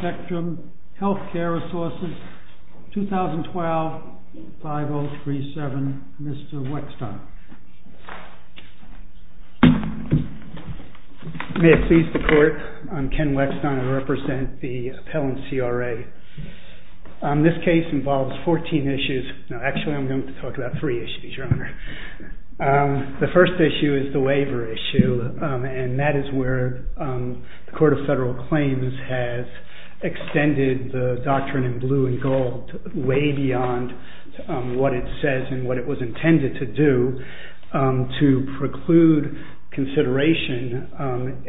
Spectrum Healthcare Resources 2012-5037 Mr. Weckstein May it please the court, I'm Ken This case involves 14 issues, no actually I'm going to talk about 3 issues your honor. The first issue is the waiver issue and that is where the Court of Federal Claims has extended the Doctrine in Blue and Gold way beyond what it says and what it was intended to do to preclude consideration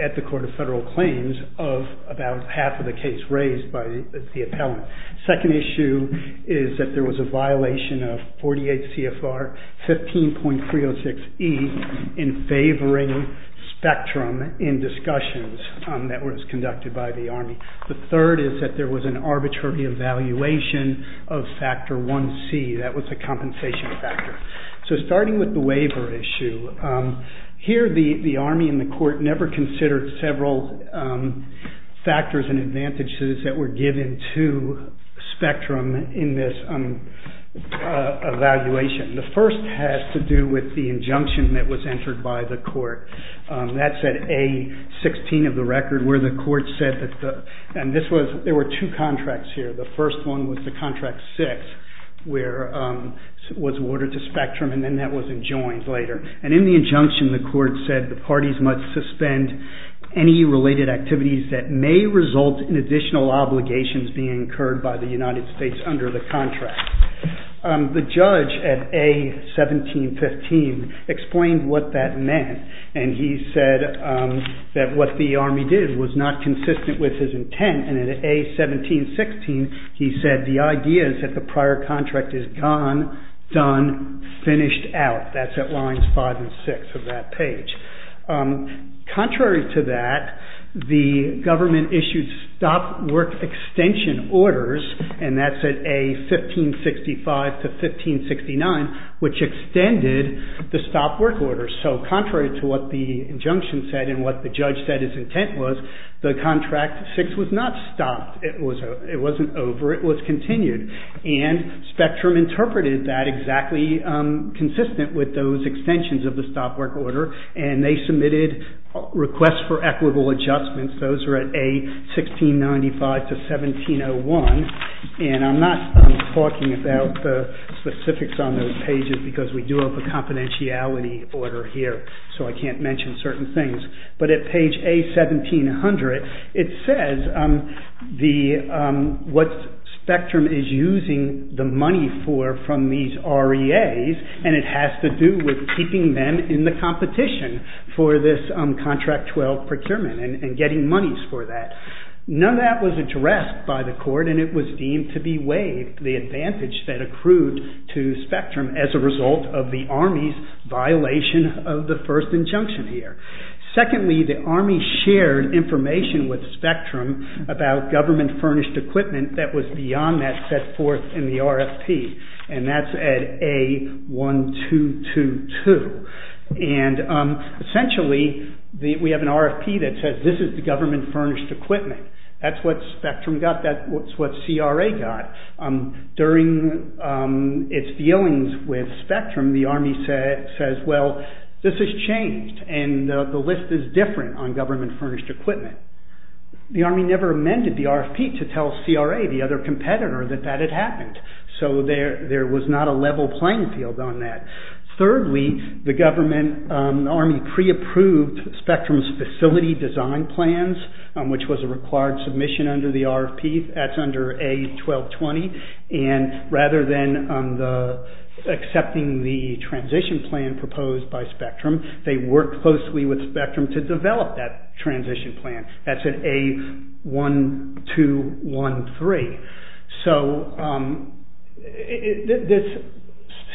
at the Court of Federal Claims of about half of the case raised by the U.S. Department of Health and Human Services. The second issue is that there was a violation of 48 CFR 15.306E in favoring spectrum in discussions that was conducted by the Army. The third is that there was an arbitrary evaluation of factor 1C that was a compensation factor. So starting with the waiver issue, here the Army and the court never considered several factors and advantages that were given to spectrum in this evaluation. The first has to do with the injunction that was entered by the court. That's at A-16 of the record where the court said that the, and this was, there were 2 contracts here. The first one was the contract 6 where it was ordered to spectrum and then that was enjoined later. And in the injunction the court said the parties must suspend any related activities that may result in additional obligations being incurred by the United States under the contract. The judge at A-1715 explained what that meant and he said that what the Army did was not consistent with his intent and at A-1716 he said the idea is that the prior contract is gone, done, finished out. That's at lines 5 and 6 of that page. Contrary to that, the government issued stop work extension orders and that's at A-1565 to 1569 which extended the stop work orders. So contrary to what the injunction said and what the judge said his intent was, the contract 6 was not stopped. It wasn't over, it was continued. And spectrum interpreted that exactly consistent with those extensions of the stop work order and they submitted requests for equitable adjustments. Those are at A-1695 to 1701 and I'm not talking about the specifics on those pages because we do have a confidentiality order here so I can't mention certain things. But at page A-1700 it says what spectrum is using the money for from these REAs and it has to do with keeping them in the competition for this contract 12 procurement and getting monies for that. None of that was addressed by the court and it was deemed to be waived, the advantage that accrued to spectrum as a result of the Army's violation of the first injunction here. Secondly, the Army shared information with spectrum about government furnished equipment that was beyond that set forth in the RFP and that's at A-1222 and essentially we have an RFP that says this is the government furnished equipment, that's what spectrum got, that's what CRA got. During its dealings with spectrum, the Army says well this is changed and the list is different on government furnished equipment. The Army never amended the RFP to tell CRA, the other competitor that that had happened. So there was not a level playing field on that. Thirdly, the government Army pre-approved spectrum's facility design plans which was a required submission under the RFP, that's under A-1220 and rather than accepting the transition plan proposed by spectrum, they worked closely with spectrum to develop that transition plan, that's at A-1213. So,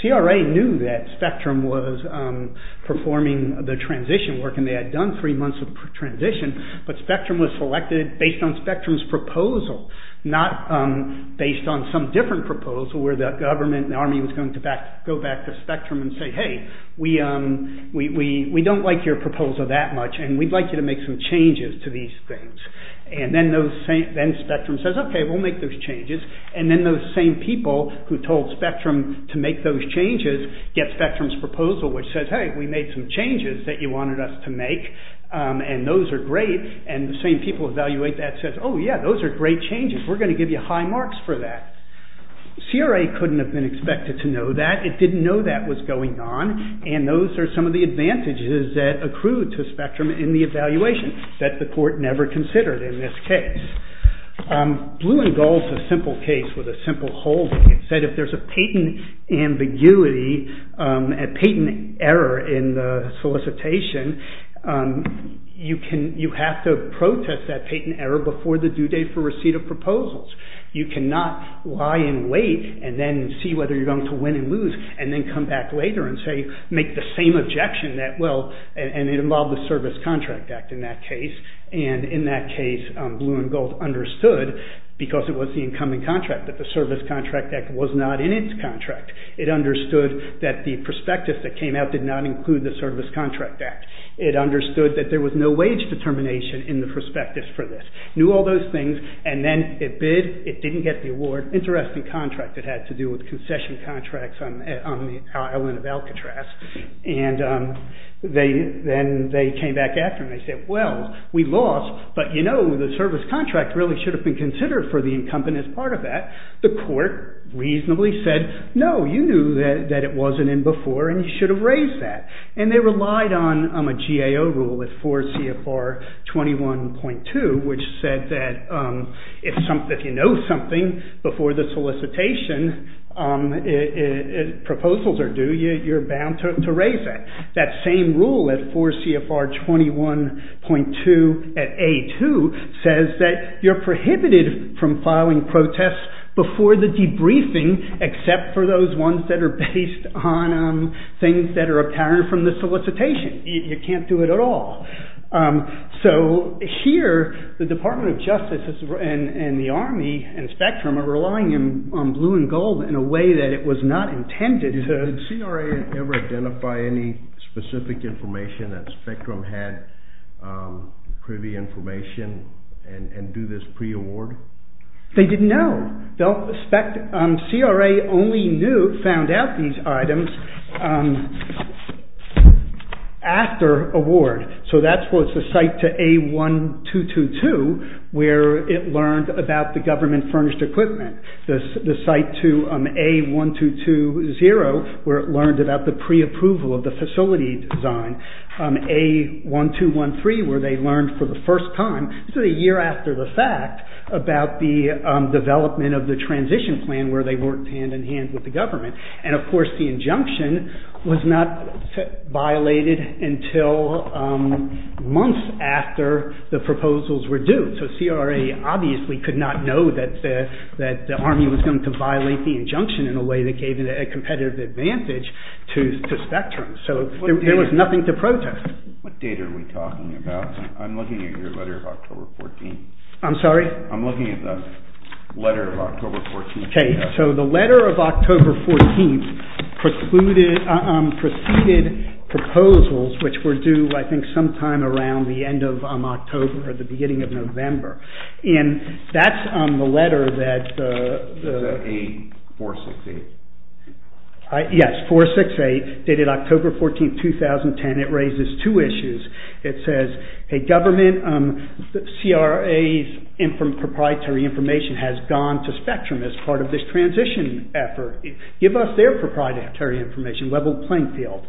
CRA knew that spectrum was performing the transition work and they had done three months of transition, but spectrum was selected based on spectrum's proposal, not based on some different proposal where the government and Army was going to go back to spectrum and say hey, we don't like your proposal that much and we'd like you to make some changes to these things. And then spectrum says okay, we'll make those changes and then those same people who told spectrum to make those changes get spectrum's proposal which says hey, we made some changes that you wanted us to make and those are great and the same people evaluate that and say oh yeah, those are great changes, we're going to give you high marks for that. Blue and Gold is a simple case with a simple holding. It said if there's a patent ambiguity, a patent error in the solicitation, you have to protest that patent error before the due date for receipt of proposals. You cannot lie and wait and then see whether you're going to win and lose and then come back later and say make the same objection that well, and it involved the Service Contract Act in that case and in that case Blue and Gold understood because it was the incoming contract that the Service Contract Act was not in its contract. It understood that the prospectus that came out did not include the Service Contract Act. It understood that there was no wage determination in the prospectus for this. It knew all those things and then it bid. It didn't get the award. Interesting contract it had to do with concession contracts on the island of Alcatraz and then they came back after and they said well, we lost but you know the service contract really should have been considered for the incumbent as part of that. The court reasonably said no, you knew that it wasn't in before and you should have raised that and they relied on a GAO rule at 4 CFR 21.2 which said that if you know something before the solicitation, proposals are due, you're bound to raise that. That same rule at 4 CFR 21.2 at A2 says that you're prohibited from filing protests before the debriefing except for those ones that are based on things that are apparent from the solicitation. You can't do it at all. Here, the Department of Justice and the Army and Spectrum are relying on blue and gold in a way that it was not intended. Did CRA ever identify any specific information that Spectrum had for the information and do this pre-award? They didn't know. CRA only found out these items after award. So that's what's the site to A1222 where it learned about the government furnished equipment. The site to A1220 where it learned about the pre-approval of the facility design. A1213 where they learned for the first time, this is a year after the fact, about the development of the transition plan where they worked hand in hand with the government. And of course the injunction was not violated until months after the proposals were due. So CRA obviously could not know that the Army was going to violate the injunction in a way that gave it a competitive advantage to Spectrum. So there was nothing to protest. What date are we talking about? I'm looking at your letter of October 14. I'm sorry? I'm looking at the letter of October 14. Okay, so the letter of October 14 precluded, preceded proposals which were due I think sometime around the end of October or the beginning of November. And that's the letter that... Is that A468? Yes, 468 dated October 14, 2010. It raises two issues. It says, hey government, CRA's proprietary information has gone to Spectrum as part of this transition effort. Give us their proprietary information, level playing field.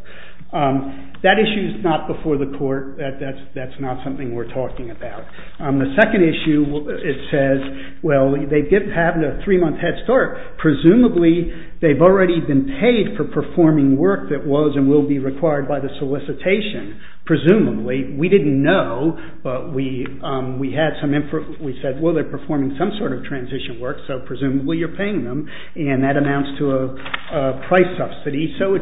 That issue is not before the court. That's not something we're talking about. The second issue, it says, well they didn't have a three-month head start. Presumably they've already been paid for performing work that was and will be required by the solicitation. Presumably. We didn't know, but we had some info. We said, well they're performing some sort of transition work, so presumably you're paying them. And that amounts to a price subsidy. So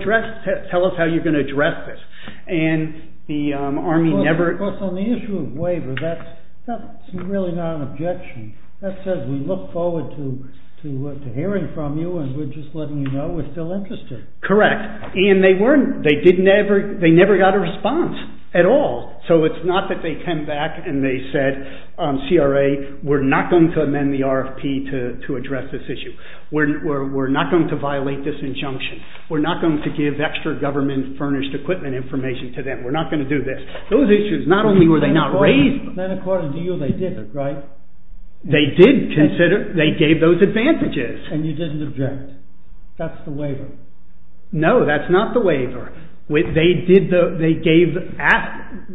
tell us how you're going to address this. And the Army never... On the issue of waiver, that's really not an objection. That says we look forward to hearing from you and we're just letting you know we're still interested. Correct. And they never got a response at all. So it's not that they came back and they said, CRA, we're not going to amend the RFP to address this issue. We're not going to violate this injunction. We're not going to give extra government furnished equipment information to them. We're not going to do this. Those issues, not only were they not raised... But then according to you, they did it, right? They did consider... They gave those advantages. And you didn't object. That's the waiver. No, that's not the waiver. They did the... They gave...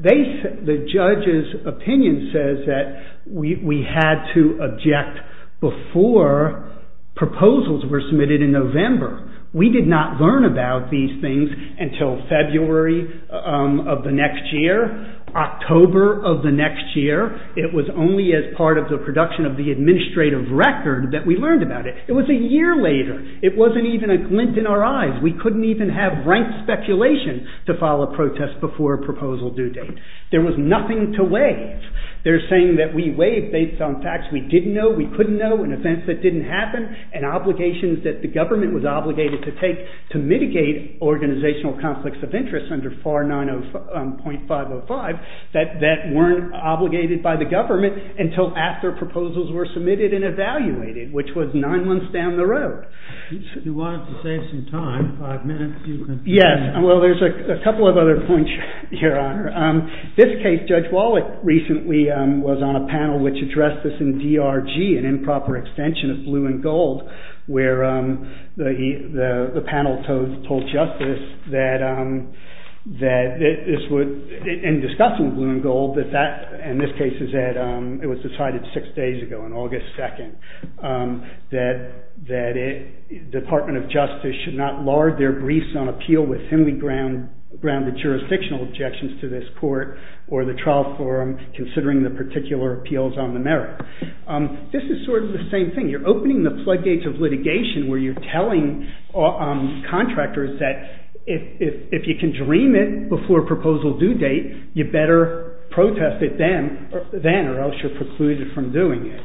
The judge's opinion says that we had to object before proposals were submitted in November. We did not learn about these things until February of the next year, October of the next year. It was only as part of the production of the administrative record that we learned about it. It was a year later. It wasn't even a glint in our eyes. We couldn't even have rank speculation to file a protest before a proposal due date. There was nothing to waive. They're saying that we waive based on facts we didn't know, we couldn't know, and events that didn't happen, and obligations that the government was obligated to take to mitigate organizational conflicts of interest under FAR 90.505 that weren't obligated by the government until after proposals were submitted and evaluated, which was nine months down the road. If you wanted to save some time, five minutes, you could... Yes. Well, there's a couple of other points, Your Honor. This case, Judge Wallach recently was on a panel which addressed this in DRG, an improper extension of blue and gold, where the panel told justice that this would... in discussing blue and gold, that that, in this case, it was decided six days ago, on August 2nd, that the Department of Justice should not lard their briefs on appeal with thinly grounded jurisdictional objections to this court or the trial forum, considering the particular appeals on the merit. This is sort of the same thing. You're opening the floodgates of litigation where you're telling contractors that if you can dream it before a proposal due date, you better protest it then, or else you're precluded from doing it.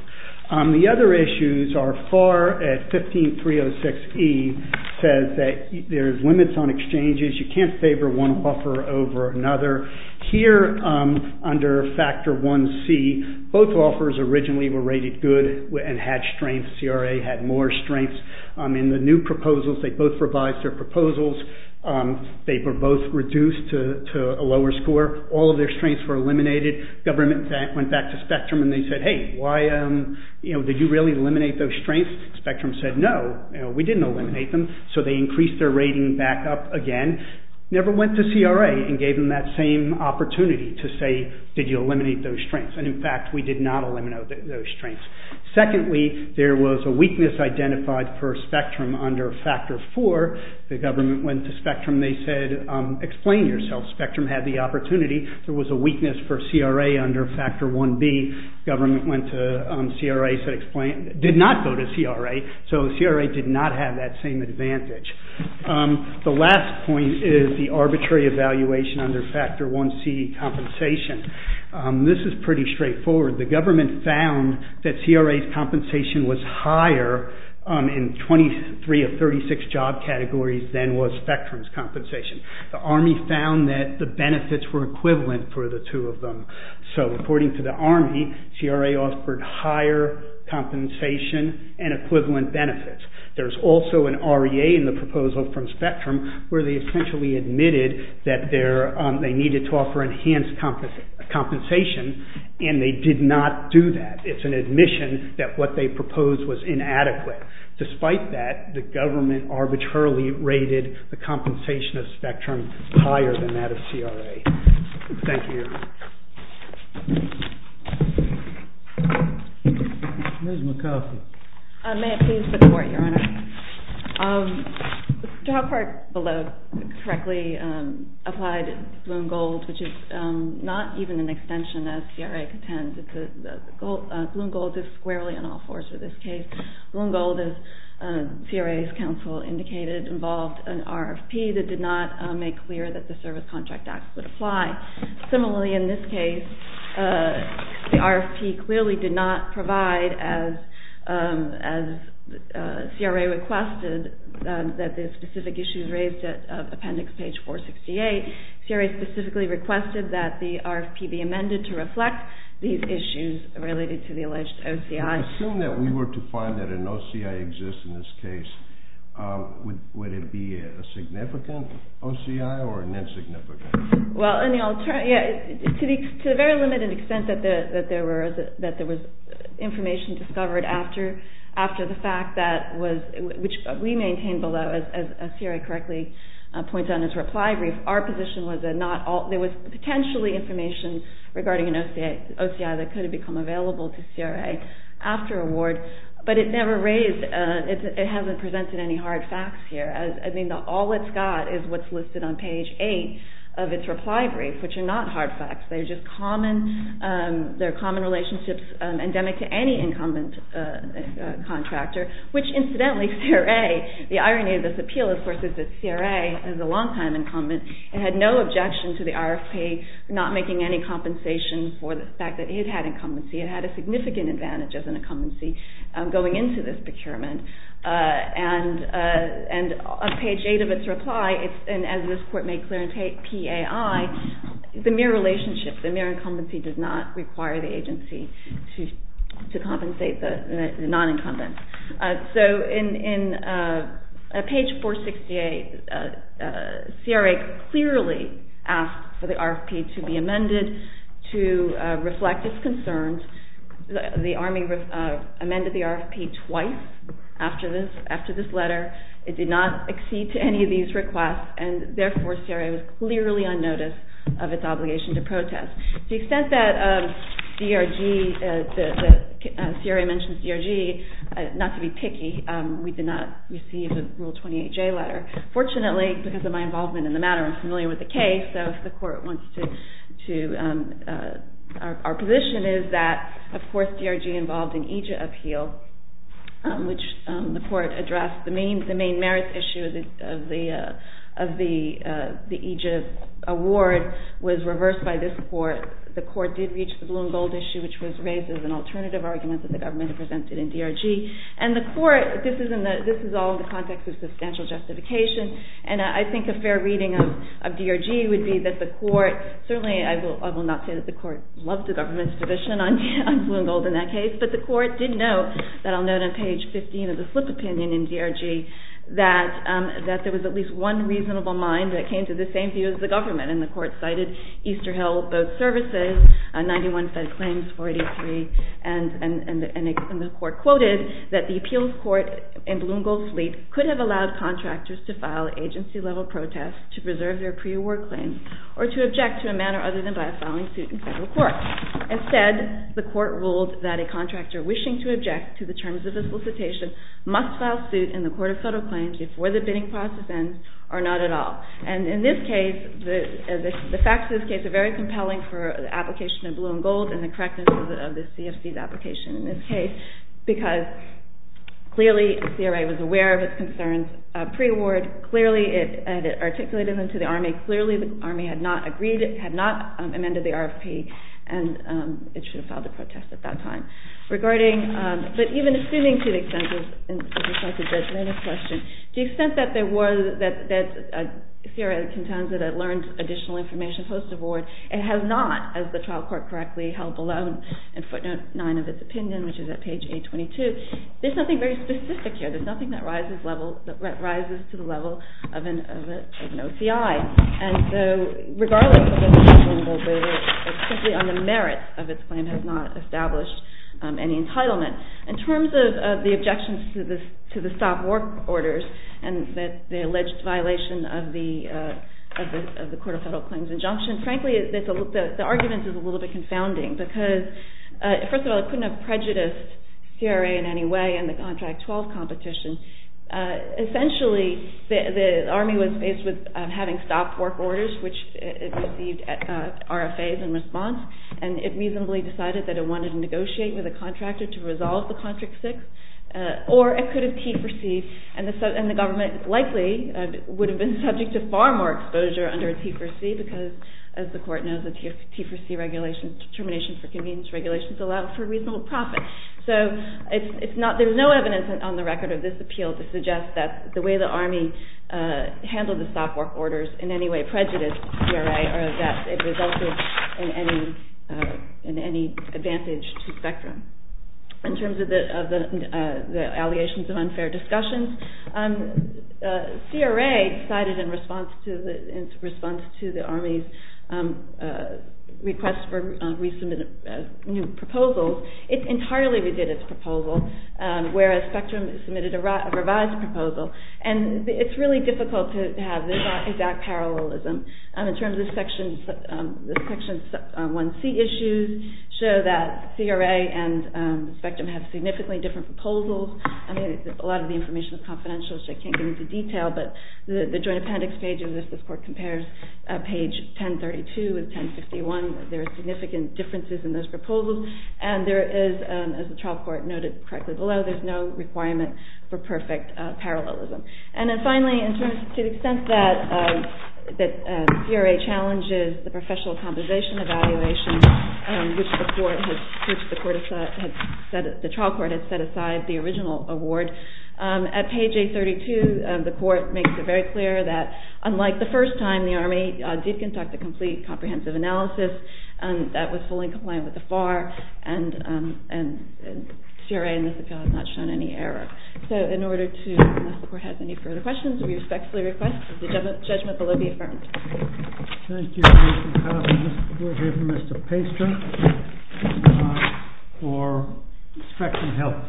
The other issues are FAR at 15306E says that there's limits on exchanges. You can't favor one offer over another. Here, under Factor 1C, both offers originally were rated good and had strengths. CRA had more strengths. In the new proposals, they both revised their proposals. They were both reduced to a lower score. All of their strengths were eliminated. Government went back to Spectrum and they said, hey, did you really eliminate those strengths? Spectrum said, no, we didn't eliminate them, so they increased their rating back up again. Never went to CRA and gave them that same opportunity to say, did you eliminate those strengths? In fact, we did not eliminate those strengths. Secondly, there was a weakness identified for Spectrum under Factor 4. The government went to Spectrum. They said, explain yourself. Spectrum had the opportunity. There was a weakness for CRA under Factor 1B. Government went to CRA, did not go to CRA, so CRA did not have that same advantage. The last point is the arbitrary evaluation under Factor 1C, compensation. This is pretty straightforward. The government found that CRA's compensation was higher in 23 of 36 job categories than was Spectrum's compensation. The Army found that the benefits were equivalent for the two of them. So, according to the Army, CRA offered higher compensation and equivalent benefits. There's also an REA in the proposal from Spectrum where they essentially admitted that they needed to offer enhanced compensation and they did not do that. It's an admission that what they proposed was inadequate. Despite that, the government arbitrarily rated the compensation of Spectrum higher than that of CRA. Thank you. Ms. McCarthy. May it please the Court, Your Honor? The job part below correctly applied Bloom-Gold, which is not even an extension as CRA contends. Bloom-Gold is squarely on all fours for this case. Bloom-Gold, as CRA's counsel indicated, involved an RFP that did not make clear that the Service Contract Act would apply. Similarly, in this case, the RFP clearly did not provide, as CRA requested, that the specific issues raised at Appendix Page 468. CRA specifically requested that the RFP be amended to reflect these issues related to the alleged OCI. I assume that we were to find that an OCI exists in this case. Would it be a significant OCI or an insignificant? Well, to the very limited extent that there was information discovered after the fact, which we maintain below, as CRA correctly points out in its reply brief, our position was that there was potentially information regarding an OCI that could have become available to CRA after award, but it hasn't presented any hard facts here. I mean, all it's got is what's listed on Page 8 of its reply brief, which are not hard facts. They're common relationships endemic to any incumbent contractor, which, incidentally, the irony of this appeal, of course, is that CRA is a long-time incumbent and had no objection to the RFP not making any compensation for the fact that it had incumbency. It had a significant advantage as an incumbency going into this procurement. And on Page 8 of its reply, as this Court made clear in PAI, it's a mere relationship. The mere incumbency does not require the agency to compensate the non-incumbent. So in Page 468, CRA clearly asked for the RFP to be amended to reflect its concerns. The Army amended the RFP twice after this letter. It did not accede to any of these requests, and therefore, CRA was clearly on notice of its obligation to protest. To the extent that CRA mentions DRG, not to be picky, we did not receive a Rule 28J letter. Fortunately, because of my involvement in the matter, I'm familiar with the case, so if the Court wants to... Our position is that, of course, DRG involved in EJIP appeal, which the Court addressed. The main merits issue of the EJIP award was reversed by this Court. The Court did reach the blue and gold issue, which was raised as an alternative argument that the Government had presented in DRG. And the Court, this is all in the context of substantial justification, and I think a fair reading of DRG would be that the Court... Certainly, I will not say that the Court loved the Government's position on blue and gold in that case, but the Court did note, that I'll note on page 15 of the slip opinion in DRG, that there was at least one reasonable mind that came to the same view as the Government, and the Court cited Easterhill Boat Services, 91 fed claims, 43, and the Court quoted that the appeals court in blue and gold fleet could have allowed contractors to file agency-level protests to preserve their pre-award claims or to object to a manner other than by a filing suit in federal court. Instead, the Court ruled that a contractor wishing to object to the terms of the solicitation must file suit in the court of federal claims before the bidding process ends or not at all. And in this case, the facts of this case are very compelling for the application of blue and gold and the correctness of the CFC's application in this case, because clearly the CRA was aware of its concerns pre-award, clearly it articulated them to the Army, clearly the Army had not amended the RFP and it should have filed a protest at that time. But even assuming to the extent of a judgmental question, to the extent that the CRA contends that it learned additional information post-award, it has not, as the trial court correctly held below in footnote 9 of its opinion, which is at page 822, there's nothing very specific here, there's nothing that rises to the level of an OCI. And so regardless of the merits of its claim, it has not established any entitlement. In terms of the objections to the stop work orders and the alleged violation of the court of federal claims injunction, frankly the argument is a little bit confounding, because first of all it couldn't have prejudiced CRA in any way in the contract 12 competition. Essentially the Army was faced with having stopped work orders, which it received RFAs in response, and it reasonably decided that it wanted to negotiate with the contractor to resolve the contract 6, or it could have T4C'd and the government likely would have been subject to far more exposure under a T4C, because as the court knows, a T4C regulation, termination for convenience regulations, allows for reasonable profit. So there's no evidence on the record of this appeal to suggest that the way the Army handled the stop work orders in any way prejudiced CRA or that it resulted in any advantage to spectrum. In terms of the allegations of unfair discussions, CRA decided in response to the Army's request for resubmitted new proposals, it entirely redid its proposal, whereas spectrum submitted a revised proposal. And it's really difficult to have this exact parallelism. In terms of Section 1C issues, show that CRA and spectrum have significantly different proposals. I mean a lot of the information is confidential, so I can't get into detail, but the joint appendix page of this, this court compares page 1032 with 1051, there are significant differences in those proposals, and there is, as the trial court noted correctly below, there's no requirement for perfect parallelism. And then finally, to the extent that CRA challenges the professional compensation evaluation, which the trial court has set aside the original award, at page 832 the court makes it very clear that, unlike the first time the Army did conduct a complete comprehensive analysis, that was fully compliant with the FAR, and CRA in this appeal has not shown any error. So in order to, unless the court has any further questions, we respectfully request that the judgment below be affirmed. Thank you, Ms. McCarthy. We'll hear from Mr. Paster for spectrum health,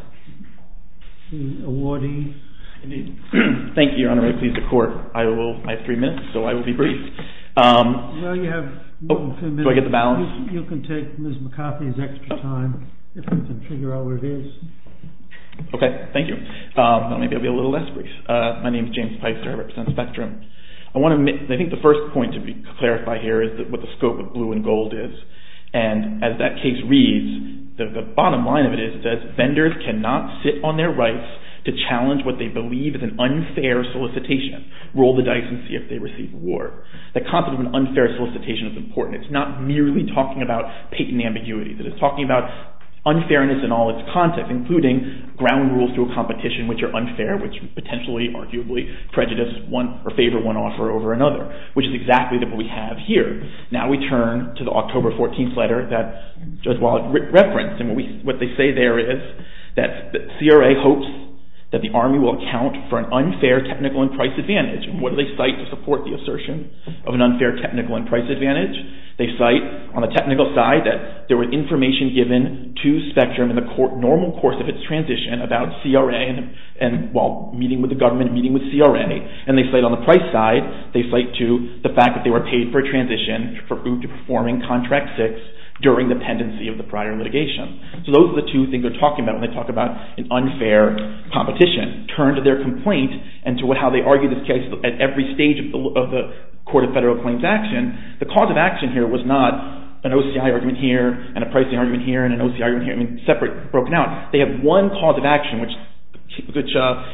the awardee. Thank you, Your Honor. Please, the court, I will, I have three minutes, so I will be brief. Well, you have two minutes. Do I get the balance? Okay, thank you. Well, maybe I'll be a little less brief. My name is James Paster. I represent spectrum. I want to, I think the first point to clarify here is what the scope of blue and gold is, and as that case reads, the bottom line of it is that vendors cannot sit on their rights to challenge what they believe is an unfair solicitation, roll the dice and see if they receive war. The concept of an unfair solicitation is important. It's not merely talking about patent ambiguity. It is talking about unfairness in all its context, including ground rules to a competition, which are unfair, which potentially, arguably, prejudice one or favor one offer over another, which is exactly what we have here. Now we turn to the October 14th letter that Judge Wild referenced, and what they say there is that CRA hopes that the Army will account for an unfair technical and price advantage, and what do they cite to support the assertion of an unfair technical and price advantage? They cite on the technical side that there was information given to spectrum in the normal course of its transition about CRA and, well, meeting with the government, meeting with CRA, and they cite on the price side, they cite to the fact that they were paid for a transition to performing contract six during the pendency of the prior litigation. So those are the two things they're talking about when they talk about an unfair competition. Turn to their complaint and to how they argue this case at every stage of the Court of Federal Claims action, and the cause of action here was not an OCI argument here and a pricing argument here and an OCI argument here, I mean, separate, broken out. They have one cause of action which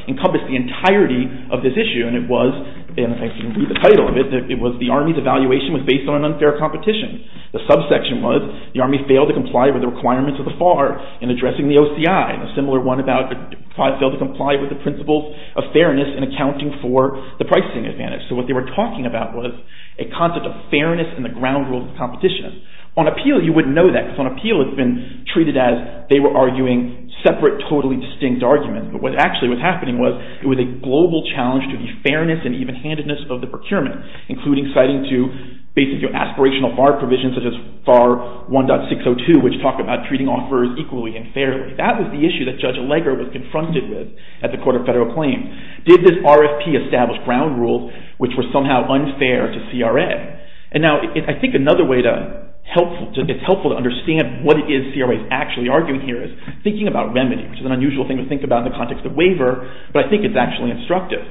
encompassed the entirety of this issue, and it was, and if I can read the title of it, it was the Army's evaluation was based on an unfair competition. The subsection was the Army failed to comply with the requirements of the FAR in addressing the OCI. A similar one about failed to comply with the principles of fairness in accounting for the pricing advantage. So what they were talking about was a concept of fairness in the ground rules of competition. On appeal, you wouldn't know that, because on appeal it's been treated as they were arguing separate, totally distinct arguments, but what actually was happening was it was a global challenge to the fairness and even-handedness of the procurement, including citing to basically aspirational FAR provisions such as FAR 1.602, which talked about treating offers equally and fairly. That was the issue that Judge Allegra was confronted with at the Court of Federal Claims. Did this RFP establish ground rules which were somehow unfair to CRA? And now I think another way to, it's helpful to understand what it is CRA is actually arguing here is thinking about remedy, which is an unusual thing to think about in the context of waiver, but I think it's actually instructive.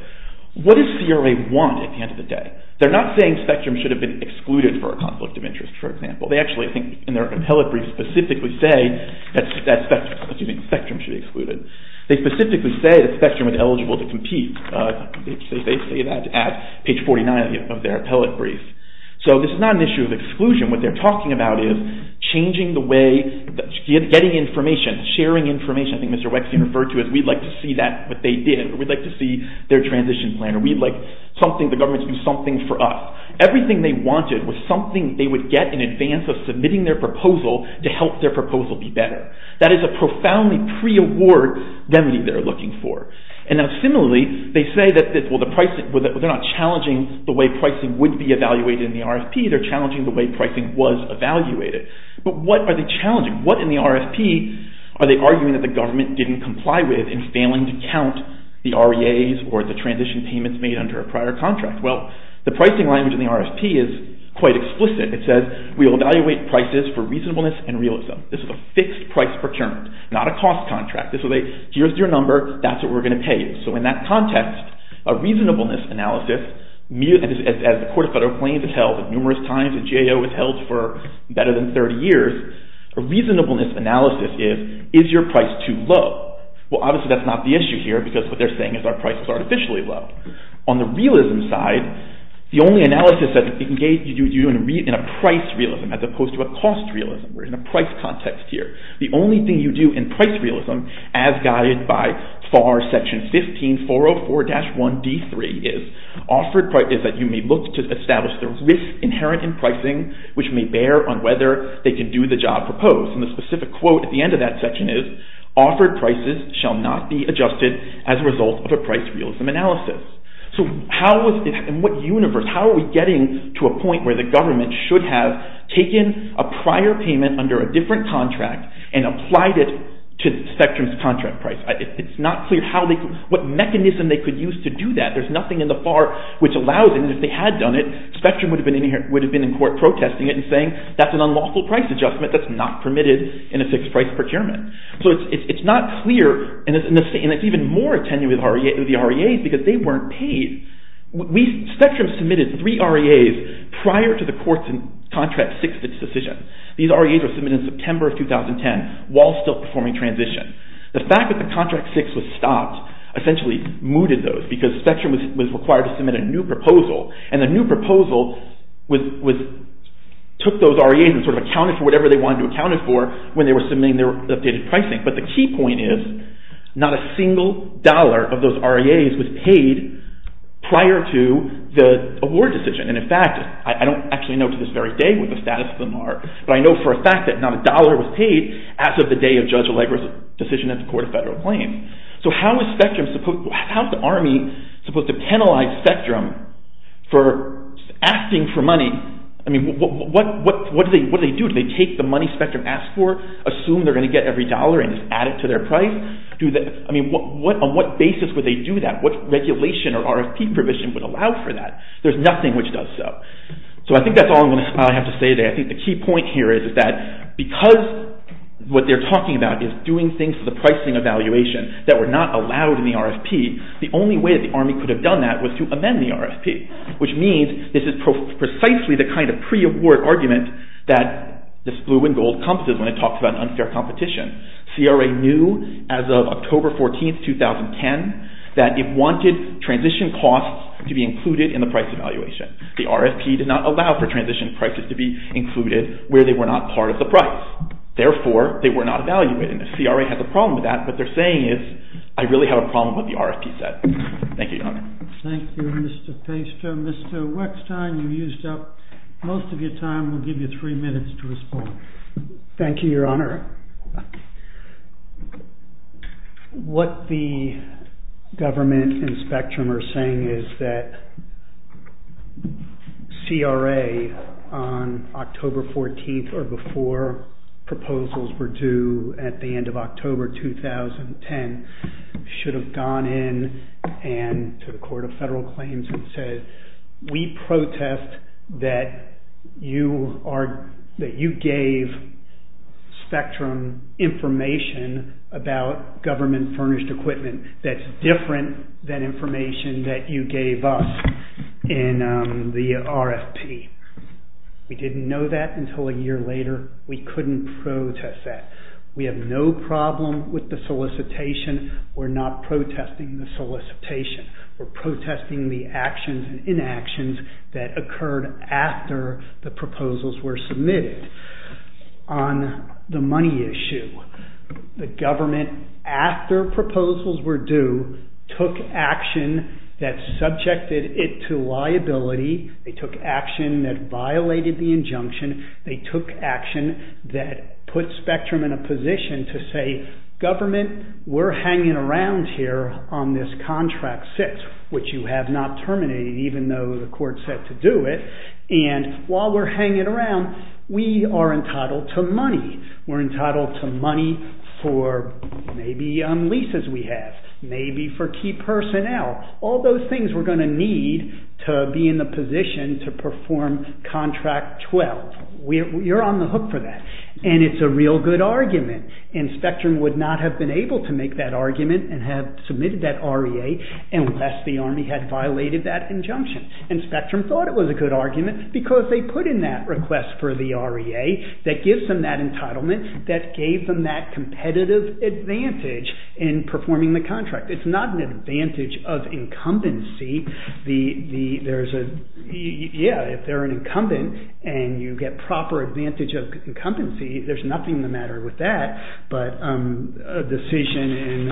What does CRA want at the end of the day? They're not saying spectrum should have been excluded for a conflict of interest, for example. They actually, I think, in their appellate brief specifically say that spectrum should be excluded. They specifically say that spectrum is eligible to compete. They say that at page 49 of their appellate brief. So this is not an issue of exclusion. What they're talking about is changing the way, getting information, sharing information. I think Mr. Wexner referred to it, we'd like to see that, what they did. We'd like to see their transition plan. We'd like something, the government to do something for us. Everything they wanted was something they would get in advance of submitting their proposal to help their proposal be better. That is a profoundly pre-award remedy they're looking for. Similarly, they say that they're not challenging the way pricing would be evaluated in the RFP. They're challenging the way pricing was evaluated. But what are they challenging? What in the RFP are they arguing that the government didn't comply with in failing to count the REAs or the transition payments made under a prior contract? The pricing language in the RFP is quite explicit. It says, we will evaluate prices for reasonableness and realism. This is a fixed price procurement, not a cost contract. Here's your number, that's what we're going to pay you. So in that context, a reasonableness analysis, as the Court of Federal Claims has held numerous times, and GAO has held for better than 30 years, a reasonableness analysis is, is your price too low? Well, obviously that's not the issue here because what they're saying is our price is artificially low. On the realism side, the only analysis that you do in a price realism as opposed to a cost realism or in a price context here, the only thing you do in price realism as guided by FAR Section 15-404-1D3 is, offered price is that you may look to establish the risk inherent in pricing which may bear on whether they can do the job proposed. And the specific quote at the end of that section is, offered prices shall not be adjusted as a result of a price realism analysis. In what universe, how are we getting to a point where the government should have taken a prior payment under a different contract and applied it to Spectrum's contract price? It's not clear what mechanism they could use to do that. There's nothing in the FAR which allows them, if they had done it, Spectrum would have been in court protesting it and saying that's an unlawful price adjustment that's not permitted in a fixed price procurement. So it's not clear and it's even more attenuated with the REAs because they weren't paid. Spectrum submitted three REAs prior to the court's contract six decision. These REAs were submitted in September of 2010 while still performing transition. The fact that the contract six was stopped essentially mooted those because Spectrum was required to submit a new proposal and the new proposal took those REAs and sort of accounted for whatever they wanted to account for when they were submitting their updated pricing. But the key point is not a single dollar of those REAs was paid prior to the award decision. And in fact, I don't actually know to this very day what the status of them are, but I know for a fact that not a dollar was paid as of the day of Judge Allegra's decision at the court of federal claim. So how is the Army supposed to penalize Spectrum for asking for money? I mean, what do they do? Do they take the money Spectrum asked for, assume they're going to get every dollar and just add it to their price? I mean, on what basis would they do that? What regulation or RFP provision would allow for that? There's nothing which does so. So I think that's all I have to say today. I think the key point here is that because what they're talking about is doing things to the pricing evaluation that were not allowed in the RFP, the only way the Army could have done that was to amend the RFP, which means this is precisely the kind of pre-award argument that this blue and gold compasses when it talks about unfair competition. CRA knew as of October 14, 2010, that it wanted transition costs to be included in the price evaluation. The RFP did not allow for transition prices to be included where they were not part of the price. Therefore, they were not evaluated. And if CRA has a problem with that, what they're saying is, I really have a problem with the RFP set. Thank you, Your Honor. Thank you, Mr. Feister. Mr. Weckstein, you used up most of your time. We'll give you three minutes to respond. Thank you, Your Honor. What the government and Spectrum are saying is that CRA, on October 14th or before, before our proposals were due at the end of October 2010, should have gone in and to the Court of Federal Claims and said, we protest that you gave Spectrum information about government furnished equipment that's different than information that you gave us in the RFP. We didn't know that until a year later. We couldn't protest that. We have no problem with the solicitation. We're not protesting the solicitation. We're protesting the actions and inactions that occurred after the proposals were submitted. On the money issue, the government, after proposals were due, took action that subjected it to liability. They took action that violated the injunction. They took action that put Spectrum in a position to say, government, we're hanging around here on this Contract 6, which you have not terminated even though the court said to do it. And while we're hanging around, we are entitled to money. We're entitled to money for maybe leases we have, maybe for key personnel. All those things we're going to need to be in the position to perform Contract 12. You're on the hook for that. And it's a real good argument. And Spectrum would not have been able to make that argument and have submitted that REA unless the Army had violated that injunction. And Spectrum thought it was a good argument because they put in that request for the REA that gives them that entitlement that gave them that competitive advantage in performing the contract. It's not an advantage of incumbency. Yeah, if they're an incumbent and you get proper advantage of incumbency, there's nothing the matter with that. But a decision in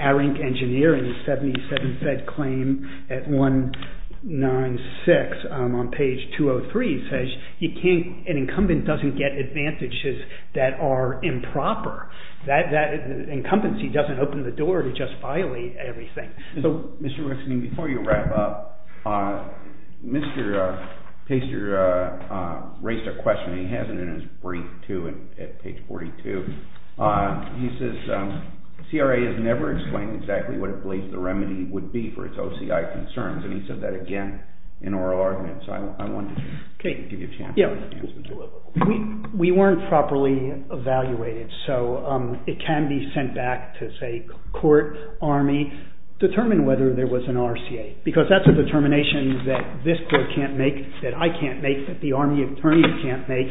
ARINC Engineering, 77 Fed Claim at 196 on page 203, says an incumbent doesn't get advantages that are improper. That incumbency doesn't open the door to just violate everything. So Mr. Rickson, before you wrap up, Mr. Pasteur raised a question. He has it in his brief too at page 42. He says CRA has never explained exactly what it believes the remedy would be for its OCI concerns. And he said that again in oral arguments. I wanted to give you a chance to answer that. We weren't properly evaluated. So it can be sent back to say court, Army, determine whether there was an RCA. Because that's a determination that this court can't make, that I can't make, that the Army attorney can't make.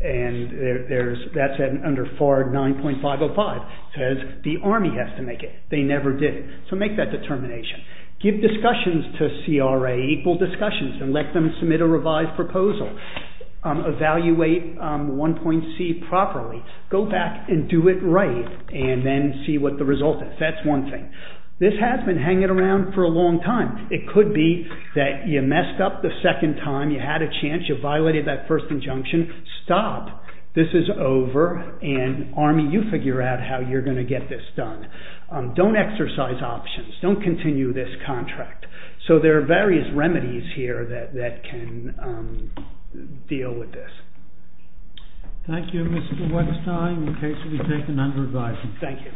And that's under FAR 9.505. It says the Army has to make it. They never did. So make that determination. Give discussions to CRA, equal discussions, and let them submit a revised proposal. Evaluate 1.C properly. Go back and do it right, and then see what the result is. That's one thing. This has been hanging around for a long time. It could be that you messed up the second time, you had a chance, you violated that first injunction. Stop. This is over, and Army, you figure out how you're going to get this done. Don't exercise options. Don't continue this contract. So there are various remedies here that can deal with this. Thank you, Mr. Weinstein. In case you'll be taken under advisement. Thank you. All rise.